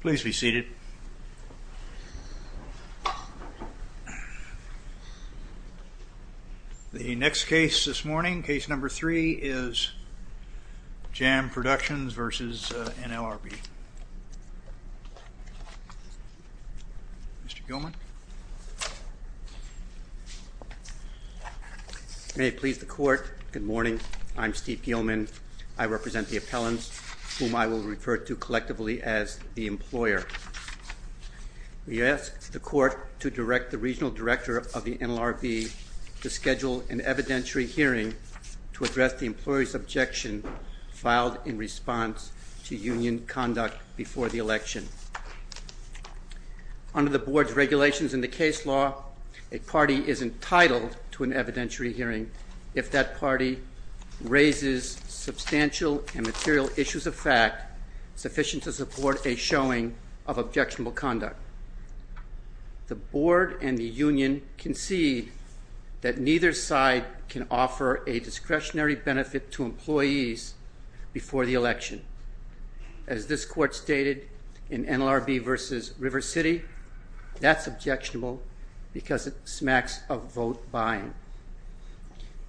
Please be seated. The next case this morning, case number three, is JAM Productions v. NLRB. Mr. Gilman. May it please the court, good morning. I'm Steve Gilman. I represent the appellants whom I will refer to collectively as the employer. We ask the court to direct the regional director of the NLRB to schedule an evidentiary hearing to address the employee's objection filed in response to union conduct before the election. Under the board's regulations in the case law, a party is entitled to an evidentiary hearing if that party raises substantial and material issues of fact sufficient to support a showing of objectionable conduct. The board and the union concede that neither side can offer a discretionary benefit to employees before the election. As this court stated in NLRB v. River City, that's objectionable because it smacks of vote buying.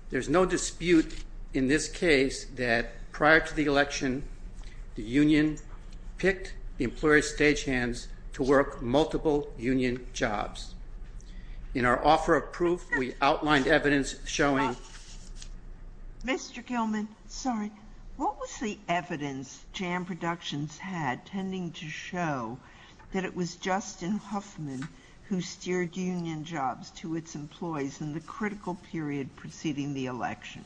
There's no dispute in this case that prior to the election, the union picked the employer's stagehands to work multiple union jobs. In our offer of proof, we outlined evidence showing. Mr. Gilman, sorry, what was the evidence JAM Productions had tending to show that it was Justin Huffman who steered union jobs to its employees in the critical period preceding the election?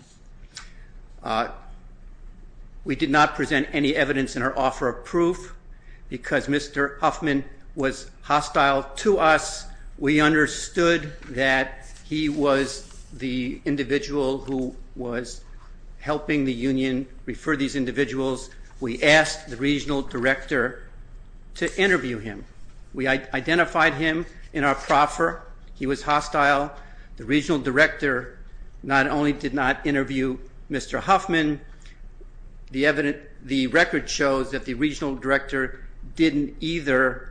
We did not present any evidence in our offer of proof because Mr. Huffman was hostile to us. We understood that he was the individual who was helping the union refer these individuals. We asked the regional director to interview him. We identified him in our proffer. He was hostile. The regional director not only did not interview Mr. Huffman, the record shows that the regional director didn't either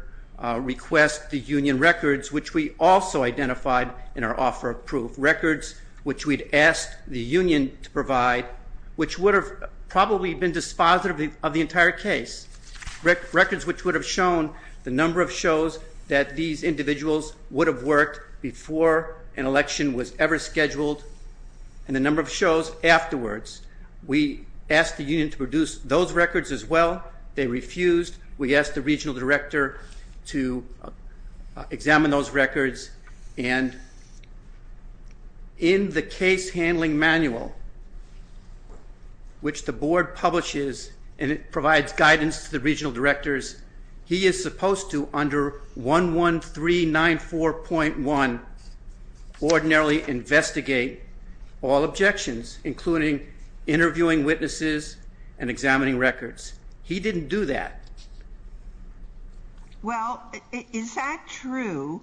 request the union records, which we also identified in our offer of proof. Records which we'd asked the union to provide, which would have probably been dispositive of the entire case. Records which would have shown the number of shows that these individuals would have worked before an election was ever scheduled and the number of shows afterwards. We asked the union to produce those records as well. They refused. We asked the regional director to examine those records. In the case handling manual, which the board publishes and it provides guidance to the regional directors, he is supposed to, under 11394.1, ordinarily investigate all objections, including interviewing witnesses and examining records. He didn't do that. Well, is that true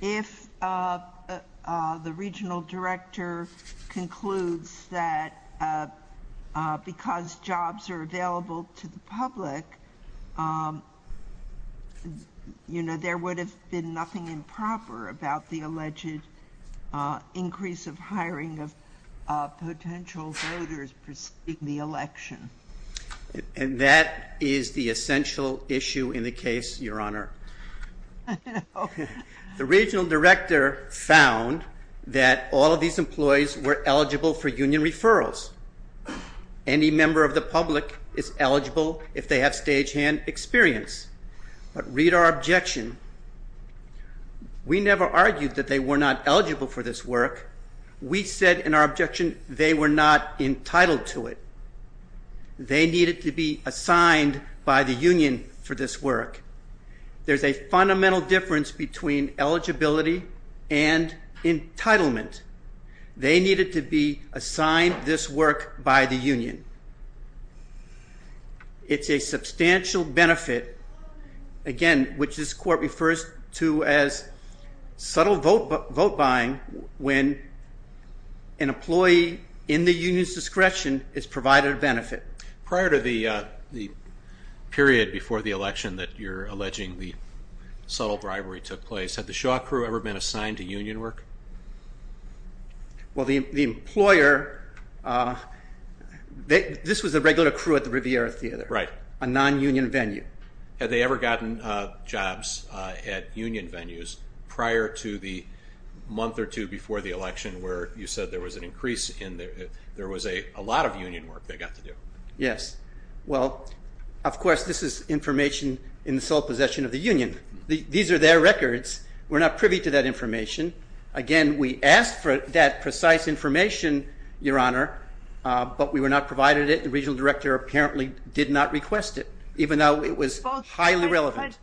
if the regional director concludes that because jobs are available to the public, you know, there would have been nothing improper about the alleged increase of hiring of potential voters preceding the election? And that is the essential issue in the case, Your Honor. The regional director found that all of these employees were eligible for union referrals. Any member of the public is eligible if they have stagehand experience. But read our objection. We never argued that they were not eligible for this work. We said in our objection they were not entitled to it. They needed to be assigned by the union for this work. There's a fundamental difference between eligibility and entitlement. They needed to be assigned this work by the union. It's a substantial benefit, again, which this court refers to as subtle vote buying when an employee in the union's discretion is provided a benefit. Prior to the period before the election that you're alleging the subtle bribery took place, had the Shaw crew ever been assigned to union work? Well, the employer, this was a regular crew at the Riviera Theater. Right. A non-union venue. Had they ever gotten jobs at union venues prior to the month or two before the election where you said there was an increase in, there was a lot of union work they got to do? Yes. Well, of course, this is information in the sole possession of the union. These are their records. We're not privy to that information. Again, we asked for that precise information, Your Honor, but we were not provided it. The regional director apparently did not request it, even though it was highly relevant.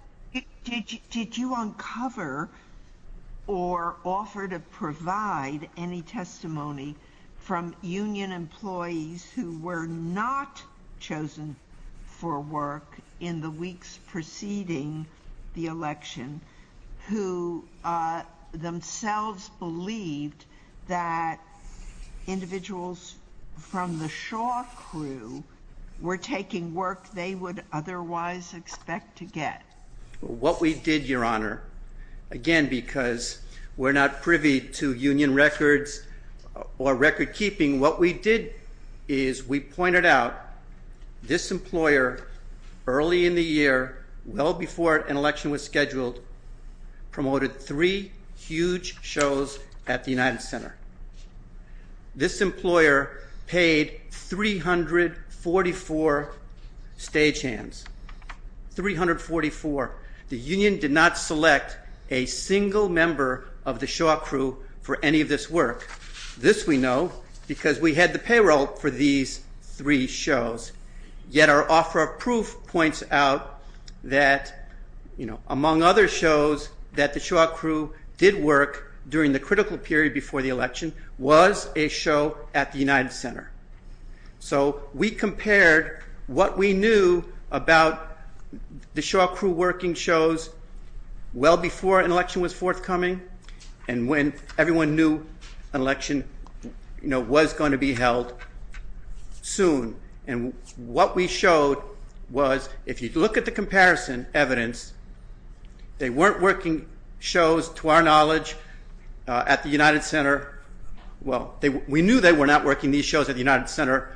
Did you uncover or offer to provide any testimony from union employees who were not chosen for work in the weeks preceding the election who themselves believed that individuals from the Shaw crew were taking work they would otherwise expect to get? What we did, Your Honor, again, because we're not privy to union records or record keeping, what we did is we pointed out this employer early in the year, well before an election was scheduled, promoted three huge shows at the United Center. This employer paid 344 stagehands, 344. The union did not select a single member of the Shaw crew for any of this work. This we know because we had the payroll for these three shows. Yet our offer of proof points out that among other shows that the Shaw crew did work during the critical period before the election was a show at the United Center. We compared what we knew about the Shaw crew working shows well before an election was forthcoming and when everyone knew an election was going to be held soon. What we showed was if you look at the comparison evidence, they weren't working shows to our knowledge at the United Center. Well, we knew they were not working these shows at the United Center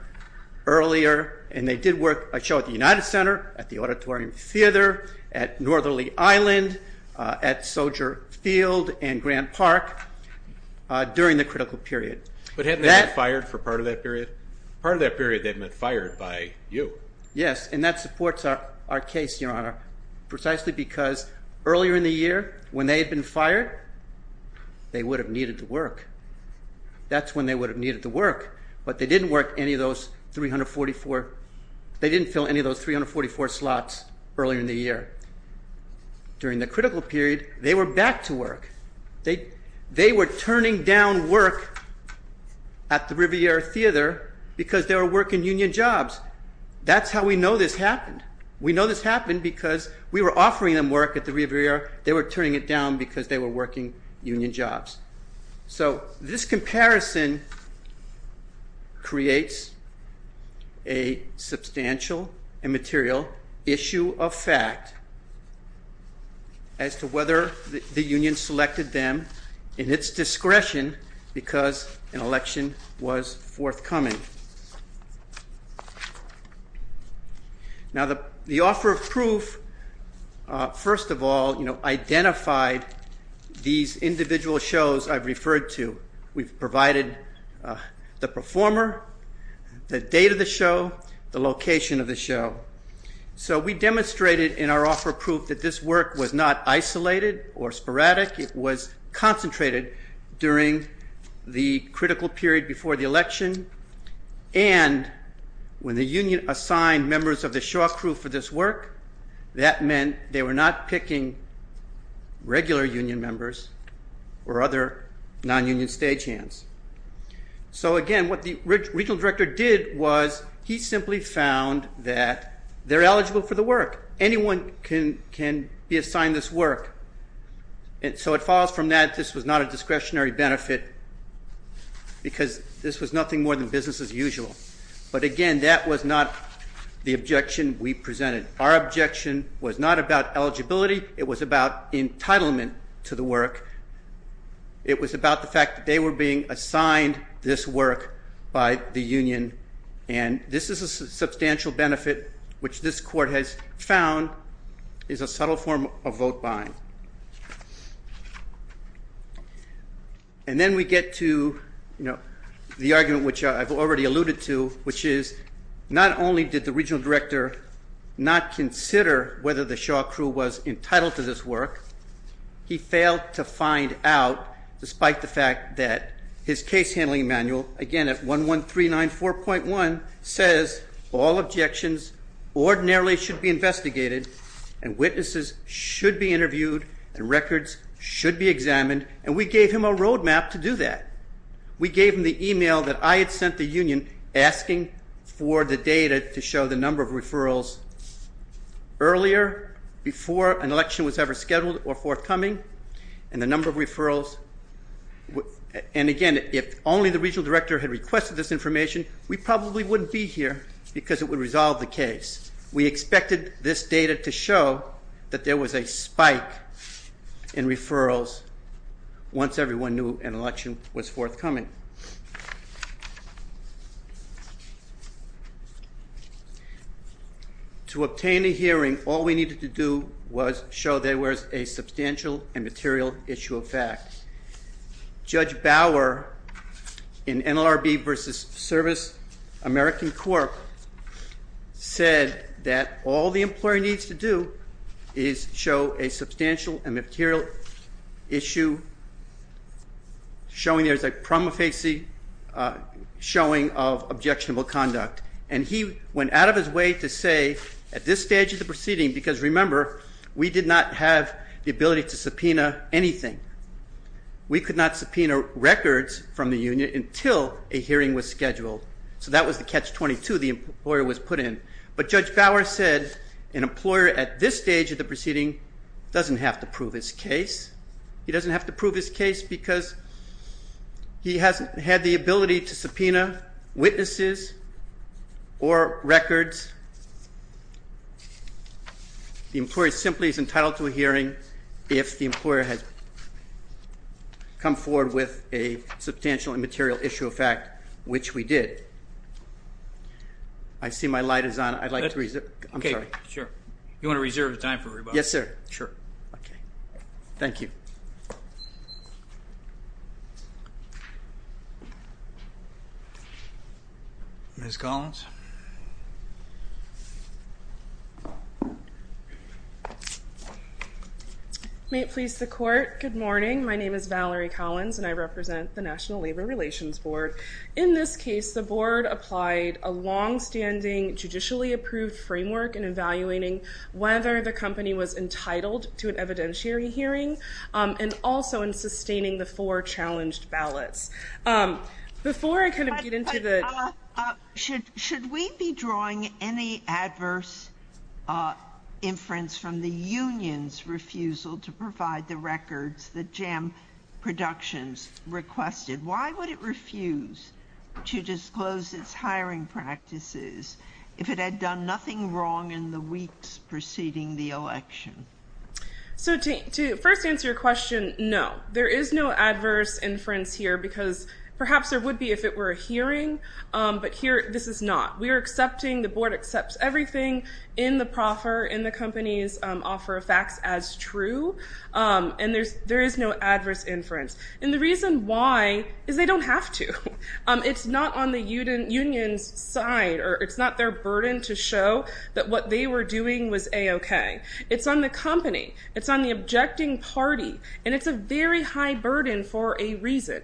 earlier and they did work a show at the United Center, at the Auditorium Theater, at Northerly Island, at Soldier Field and Grand Park during the critical period. But hadn't they been fired for part of that period? Part of that period they've been fired by you. Yes, and that supports our case, Your Honor, precisely because earlier in the year when they had been fired, they would have needed to work. That's when they would have needed to work, but they didn't fill any of those 344 slots earlier in the year. During the critical period, they were back to work. They were turning down work at the Riviera Theater because they were working union jobs. That's how we know this happened. We know this happened because we were offering them work at the Riviera. They were turning it down because they were working union jobs. So this comparison creates a substantial and material issue of fact as to whether the union selected them in its discretion because an election was forthcoming. Now the offer of proof, first of all, identified these individual shows I've referred to. We've provided the performer, the date of the show, the location of the show. So we demonstrated in our offer of proof that this work was not isolated or sporadic. It was concentrated during the critical period before the election, and when the union assigned members of the show off crew for this work, that meant they were not picking regular union members or other non-union stagehands. So again, what the regional director did was he simply found that they're eligible for the work. Anyone can be assigned this work. And so it falls from that this was not a discretionary benefit because this was nothing more than business as usual. But again, that was not the objection we presented. Our objection was not about eligibility. It was about entitlement to the work. It was about the fact that they were being assigned this work by the union. And this is a substantial benefit which this court has found is a subtle form of vote buying. And then we get to the argument which I've already alluded to, which is not only did the regional director not consider whether the show off crew was entitled to this work, he failed to find out despite the fact that his case handling manual, again at 11394.1, says all objections ordinarily should be investigated and witnesses should be interviewed and records should be examined. And we gave him a roadmap to do that. We gave him the email that I had sent the union asking for the data to show the number of referrals earlier, before an election was ever scheduled or forthcoming, and the number of referrals. And again, if only the regional director had requested this information, we probably wouldn't be here because it would resolve the case. We expected this data to show that there was a spike in referrals once everyone knew an election was forthcoming. To obtain a hearing, all we needed to do was show there was a substantial and material issue of fact. Judge Bauer in NLRB versus Service American Corp said that all the employer needs to do is show a substantial and material issue, showing there's a prima facie showing of objectionable conduct. And he went out of his way to say at this stage of the proceeding, because remember, we did not have the ability to subpoena anything. We could not subpoena records from the union until a hearing was scheduled. So that was the catch 22 the employer was put in. But Judge Bauer said an employer at this stage of the proceeding doesn't have to prove his case. He doesn't have to prove his case because he hasn't had the ability to subpoena witnesses or records. The employer simply is entitled to a hearing if the employer has come forward with a substantial and material issue of fact, which we did. I see my light is on. I'd like to reserve. I'm sorry. Sure. You want to reserve the time for rebuttal? Yes, sir. Sure. Okay. Thank you. Ms. Collins. May it please the court. Good morning. My name is Valerie Collins, and I represent the National Labor Relations Board. In this case, the board applied a longstanding, judicially-approved framework in evaluating whether the company was entitled to an evidentiary hearing, and also in sustaining the four challenged ballots. Before I kind of get into the... Should we be drawing any adverse inference from the union's refusal to provide the records that JAM Productions requested? Why would it refuse to disclose its hiring practices if it had done nothing wrong in the weeks preceding the election? So to first answer your question, no. There is no adverse inference here because perhaps there would be if it were a hearing, but here this is not. We are accepting, the board accepts everything in the proffer, in the company's offer of facts as true, and there is no adverse inference. And the reason why is they don't have to. It's not on the union's side, or it's not their burden to show that what they were doing was A-okay. It's on the company. It's on the objecting party. And it's a very high burden for a reason.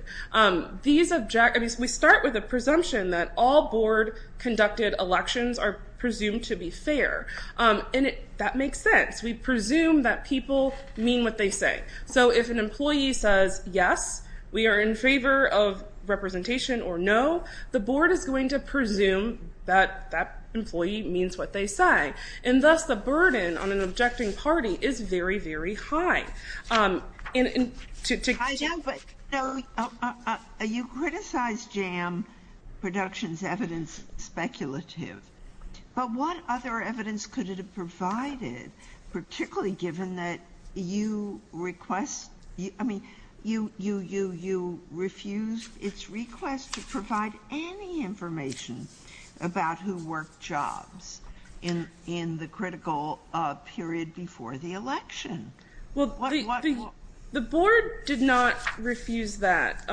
We start with a presumption that all board-conducted elections are presumed to be fair, and that makes sense. We presume that people mean what they say. So if an employee says yes, we are in favor of representation, or no, the board is going to presume that that employee means what they say. And thus the burden on an objecting party is very, very high. I know, but you criticized JAM Productions' evidence speculative, but what other evidence could it have provided, particularly given that you refused its request to provide any information about who worked jobs in the critical period before the election? Well, the board did not refuse that.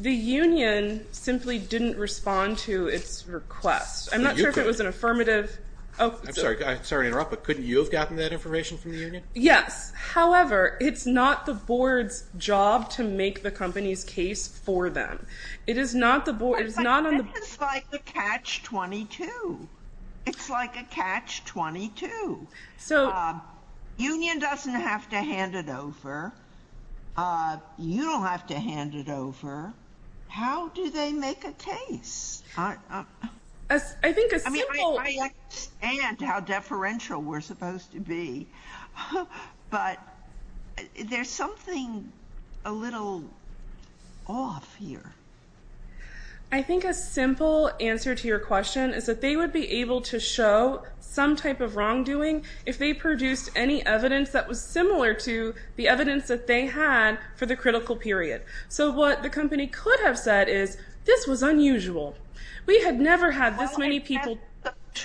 The union simply didn't respond to its request. I'm not sure if it was an affirmative. I'm sorry to interrupt, but couldn't you have gotten that information from the union? Yes. However, it's not the board's job to make the company's case for them. It is not on the board. But this is like a catch-22. It's like a catch-22. Union doesn't have to hand it over. You don't have to hand it over. How do they make a case? I mean, I understand how deferential we're supposed to be, but there's something a little off here. I think a simple answer to your question is that they would be able to show some type of wrongdoing if they produced any evidence that was similar to the evidence that they had for the critical period. So what the company could have said is, this was unusual. We had never had this many people. If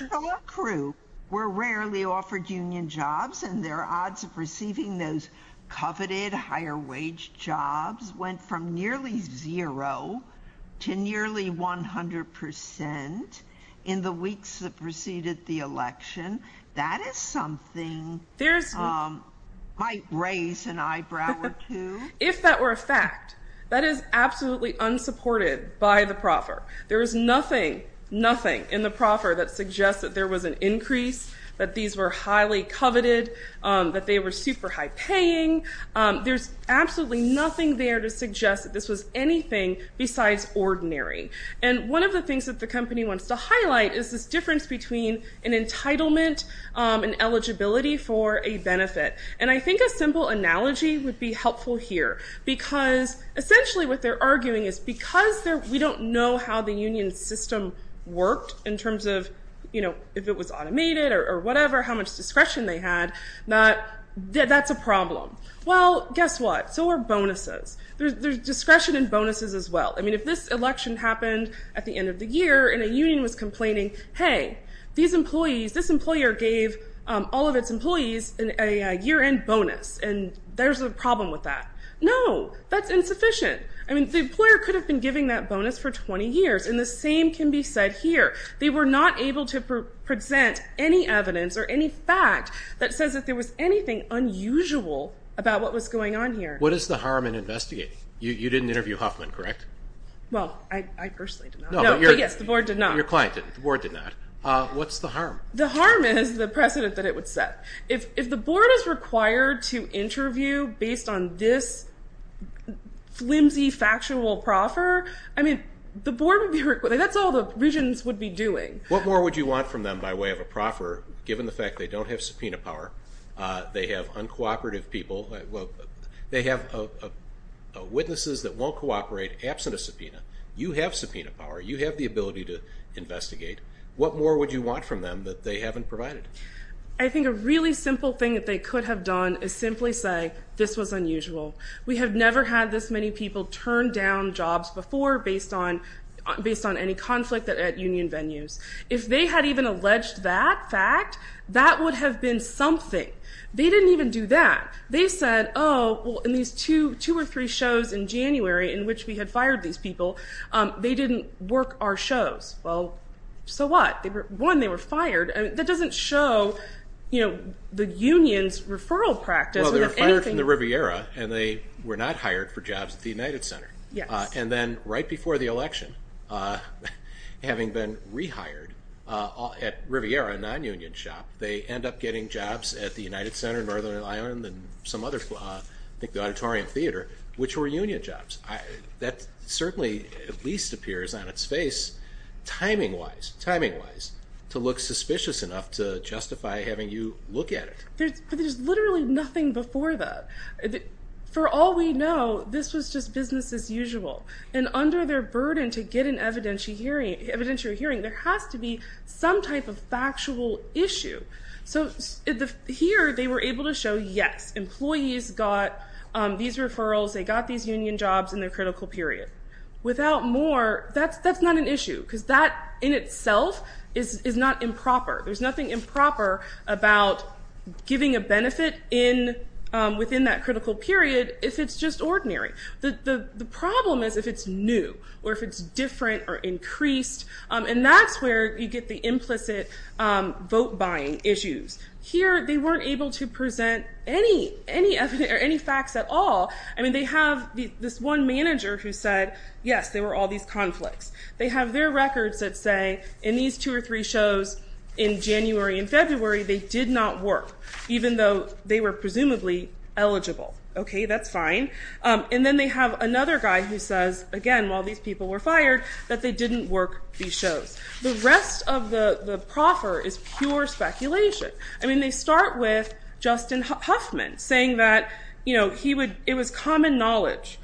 that were a fact, that is absolutely unsupported by the proffer. There is nothing, nothing in the proffer that suggests that there was an increase, that these were highly coveted, that they were super high-paying. There's absolutely nothing there to suggest that this was anything besides ordinary. And one of the things that the company wants to highlight is this difference between an entitlement and eligibility for a benefit. And I think a simple analogy would be helpful here. Essentially what they're arguing is because we don't know how the union system worked in terms of if it was automated or whatever, how much discretion they had, that's a problem. Well, guess what? So are bonuses. There's discretion in bonuses as well. I mean, if this election happened at the end of the year and a union was complaining, hey, this employer gave all of its employees a year-end bonus, and there's a problem with that. No. That's insufficient. I mean, the employer could have been giving that bonus for 20 years, and the same can be said here. They were not able to present any evidence or any fact that says that there was anything unusual about what was going on here. What is the harm in investigating? You didn't interview Huffman, correct? Well, I personally did not. No, but yes, the board did not. Your client did. The board did not. What's the harm? The harm is the precedent that it would set. If the board is required to interview based on this flimsy, factional proffer, I mean, the board would be required. That's all the regents would be doing. What more would you want from them by way of a proffer given the fact they don't have subpoena power, they have uncooperative people, they have witnesses that won't cooperate absent a subpoena, you have subpoena power, you have the ability to investigate. What more would you want from them that they haven't provided? I think a really simple thing that they could have done is simply say this was unusual. We have never had this many people turn down jobs before based on any conflict at union venues. If they had even alleged that fact, that would have been something. They didn't even do that. They said, oh, well, in these two or three shows in January in which we had fired these people, they didn't work our shows. Well, so what? One, they were fired. That doesn't show, you know, the union's referral practice. Well, they were fired from the Riviera and they were not hired for jobs at the United Center. Yes. And then right before the election, having been rehired at Riviera, a non-union shop, they end up getting jobs at the United Center in Northern Ireland and some other, I think the Auditorium Theater, which were union jobs. That certainly at least appears on its face timing-wise, timing-wise, to look suspicious enough to justify having you look at it. But there's literally nothing before that. For all we know, this was just business as usual. And under their burden to get an evidentiary hearing, there has to be some type of factual issue. So here they were able to show, yes, employees got these referrals. They got these union jobs in their critical period. Without more, that's not an issue because that in itself is not improper. There's nothing improper about giving a benefit within that critical period if it's just ordinary. The problem is if it's new or if it's different or increased, and that's where you get the implicit vote-buying issues. Here they weren't able to present any facts at all. I mean, they have this one manager who said, yes, there were all these conflicts. They have their records that say in these two or three shows in January and February, they did not work, even though they were presumably eligible. Okay, that's fine. And then they have another guy who says, again, while these people were fired, that they didn't work these shows. The rest of the proffer is pure speculation. I mean, they start with Justin Huffman saying that it was common knowledge.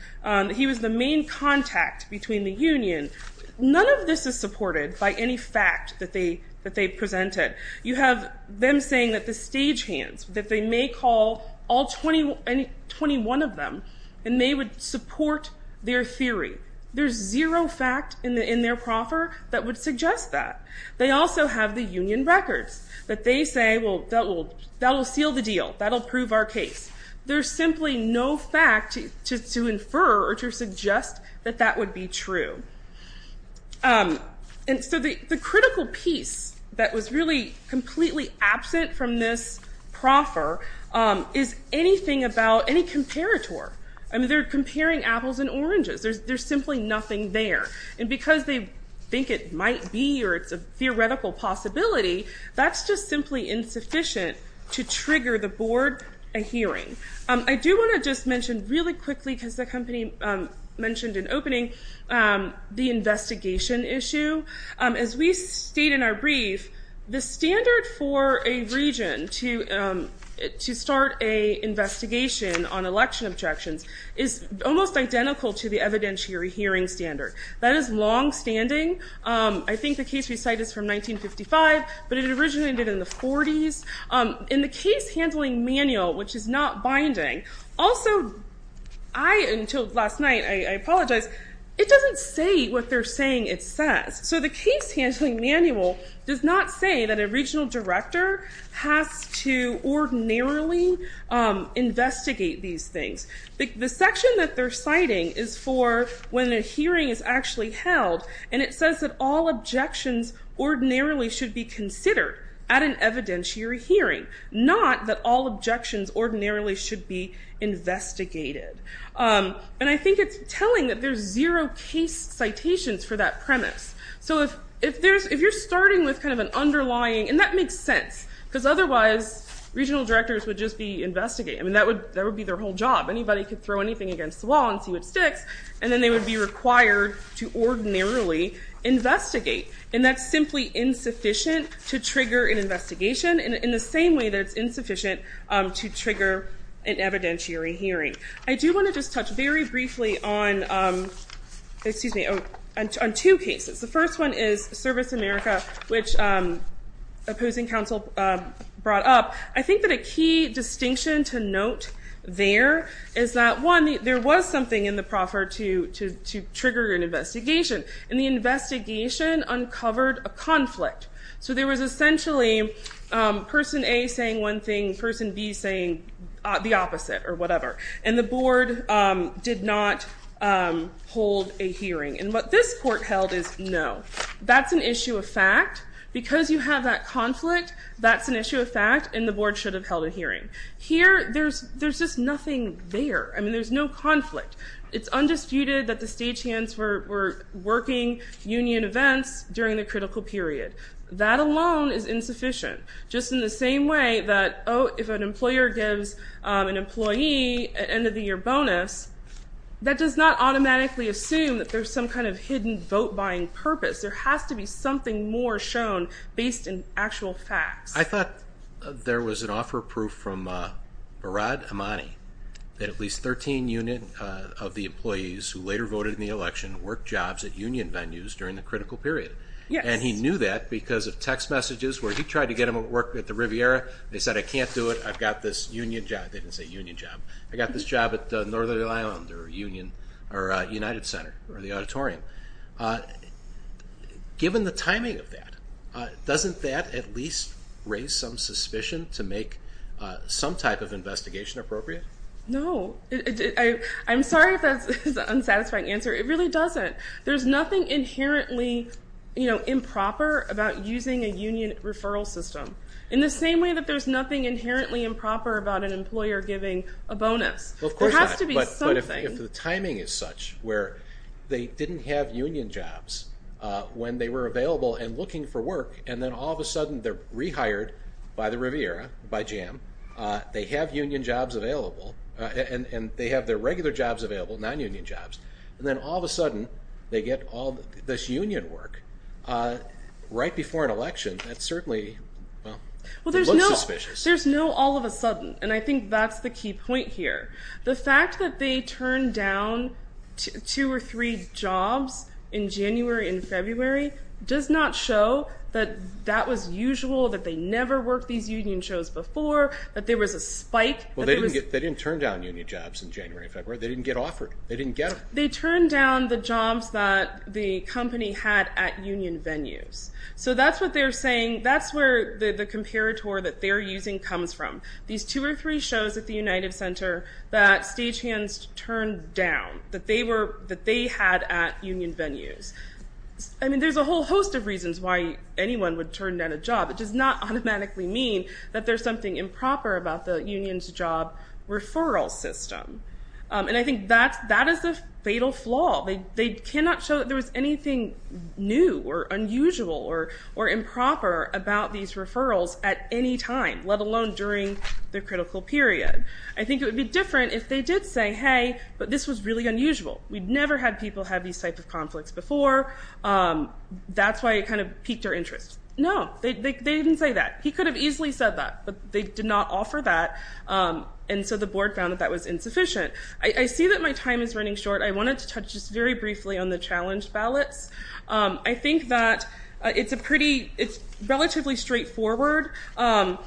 He was the main contact between the union. None of this is supported by any fact that they presented. You have them saying that the stagehands, that they may call all 21 of them, and they would support their theory. There's zero fact in their proffer that would suggest that. They also have the union records that they say, well, that will seal the deal. That will prove our case. There's simply no fact to infer or to suggest that that would be true. And so the critical piece that was really completely absent from this proffer is anything about any comparator. I mean, they're comparing apples and oranges. There's simply nothing there. And because they think it might be or it's a theoretical possibility, that's just simply insufficient to trigger the board a hearing. I do want to just mention really quickly, because the company mentioned in opening, the investigation issue. As we state in our brief, the standard for a region to start an investigation on election objections is almost identical to the evidentiary hearing standard. That is longstanding. I think the case we cite is from 1955, but it originated in the 40s. In the case handling manual, which is not binding, also I, until last night, I apologize, it doesn't say what they're saying it says. So the case handling manual does not say that a regional director has to ordinarily investigate these things. The section that they're citing is for when a hearing is actually held, and it says that all objections ordinarily should be considered at an evidentiary hearing, not that all objections ordinarily should be investigated. And I think it's telling that there's zero case citations for that premise. So if you're starting with kind of an underlying, and that makes sense, because otherwise regional directors would just be investigated. I mean, that would be their whole job. Anybody could throw anything against the wall and see what sticks, and then they would be required to ordinarily investigate. And that's simply insufficient to trigger an investigation, in the same way that it's insufficient to trigger an evidentiary hearing. I do want to just touch very briefly on two cases. The first one is Service America, which opposing counsel brought up. I think that a key distinction to note there is that, one, there was something in the proffer to trigger an investigation, and the investigation uncovered a conflict. So there was essentially person A saying one thing, person B saying the opposite or whatever, and the board did not hold a hearing. And what this court held is, no, that's an issue of fact. And the board should have held a hearing. Here, there's just nothing there. I mean, there's no conflict. It's undisputed that the stagehands were working union events during the critical period. That alone is insufficient, just in the same way that, oh, if an employer gives an employee an end-of-the-year bonus, that does not automatically assume that there's some kind of hidden vote-buying purpose. There has to be something more shown based in actual facts. I thought there was an offer of proof from Barad Amani that at least 13 unit of the employees who later voted in the election worked jobs at union venues during the critical period. Yes. And he knew that because of text messages where he tried to get them to work at the Riviera. They said, I can't do it. I've got this union job. They didn't say union job. I got this job at Northern Ireland or Union or United Center or the auditorium. Given the timing of that, doesn't that at least raise some suspicion to make some type of investigation appropriate? No. I'm sorry if that's an unsatisfying answer. It really doesn't. There's nothing inherently improper about using a union referral system, in the same way that there's nothing inherently improper about an employer giving a bonus. There has to be something. But if the timing is such where they didn't have union jobs when they were available and looking for work, and then all of a sudden they're rehired by the Riviera, by JAM, they have union jobs available, and they have their regular jobs available, non-union jobs, and then all of a sudden they get all this union work right before an election, that certainly looks suspicious. There's no all of a sudden, and I think that's the key point here. The fact that they turned down two or three jobs in January and February does not show that that was usual, that they never worked these union shows before, that there was a spike. Well, they didn't turn down union jobs in January and February. They didn't get offered. They didn't get them. They turned down the jobs that the company had at union venues. So that's what they're saying. That's where the comparator that they're using comes from. These two or three shows at the United Center that Stagehands turned down, that they had at union venues. I mean, there's a whole host of reasons why anyone would turn down a job. It does not automatically mean that there's something improper about the union's job referral system, and I think that is a fatal flaw. They cannot show that there was anything new or unusual or improper about these referrals at any time, let alone during the critical period. I think it would be different if they did say, hey, but this was really unusual. We've never had people have these types of conflicts before. That's why it kind of piqued their interest. No, they didn't say that. He could have easily said that, but they did not offer that, and so the board found that that was insufficient. I see that my time is running short. I wanted to touch just very briefly on the challenge ballots. I think that it's relatively straightforward. The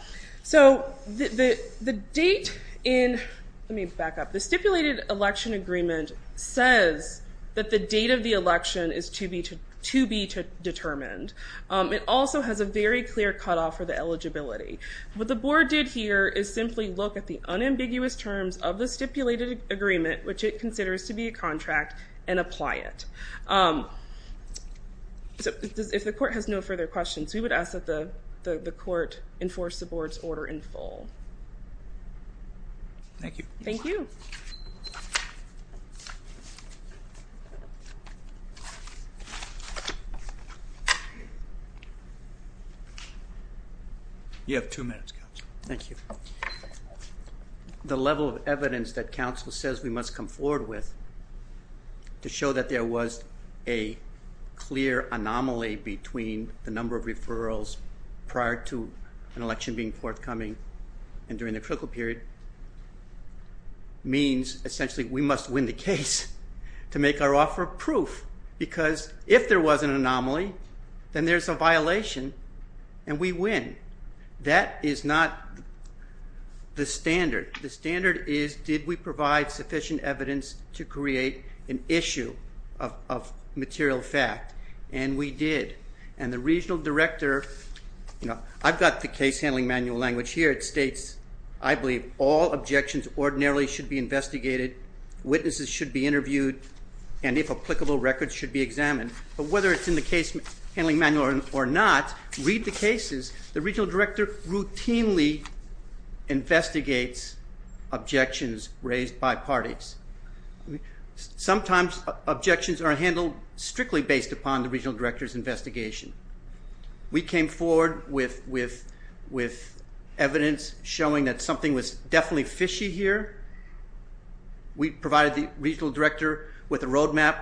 stipulated election agreement says that the date of the election is to be determined. It also has a very clear cutoff for the eligibility. What the board did here is simply look at the unambiguous terms of the stipulated agreement, which it considers to be a contract, and apply it. If the court has no further questions, we would ask that the court enforce the board's order in full. Thank you. Thank you. You have two minutes, counsel. Thank you. The level of evidence that counsel says we must come forward with to show that there was a clear anomaly between the number of referrals prior to an election being forthcoming and during the critical period means essentially we must win the case to make our offer proof, because if there was an anomaly, then there's a violation, and we win. That is not the standard. The standard is did we provide sufficient evidence to create an issue of material fact, and we did. And the regional director, you know, I've got the case handling manual language here. It states, I believe, all objections ordinarily should be investigated, witnesses should be interviewed, and if applicable, records should be examined. But whether it's in the case handling manual or not, read the cases. The regional director routinely investigates objections raised by parties. Sometimes objections are handled strictly based upon the regional director's investigation. We came forward with evidence showing that something was definitely fishy here. We provided the regional director with a roadmap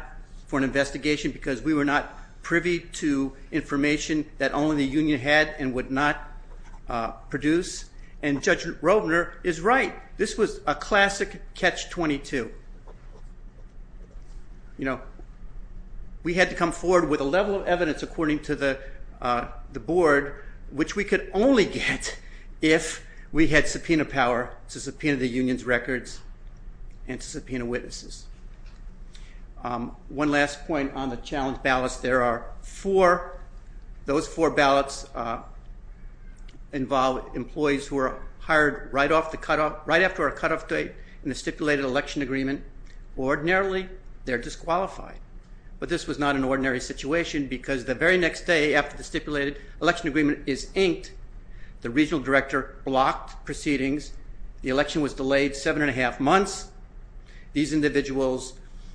for an investigation because we were not privy to information that only the union had and would not produce, and Judge Roebner is right. This was a classic catch-22. You know, we had to come forward with a level of evidence according to the board, which we could only get if we had subpoena power to subpoena the union's records and to subpoena witnesses. One last point on the challenge ballots. There are four. Those four ballots involve employees who are hired right after a cutoff date in the stipulated election agreement. Ordinarily, they're disqualified, but this was not an ordinary situation because the very next day after the stipulated election agreement is inked, the regional director blocked proceedings. The election was delayed seven and a half months. These individuals,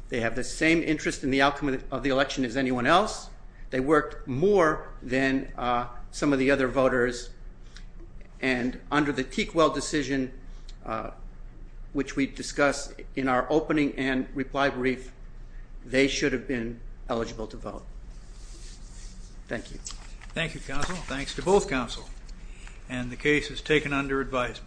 they have the same interest in the outcome of the election as anyone else. They worked more than some of the other voters, and under the Teakwell decision, which we discussed in our opening and reply brief, they should have been eligible to vote. Thank you. Thank you, counsel. Thanks to both counsel. And the case is taken under advisement.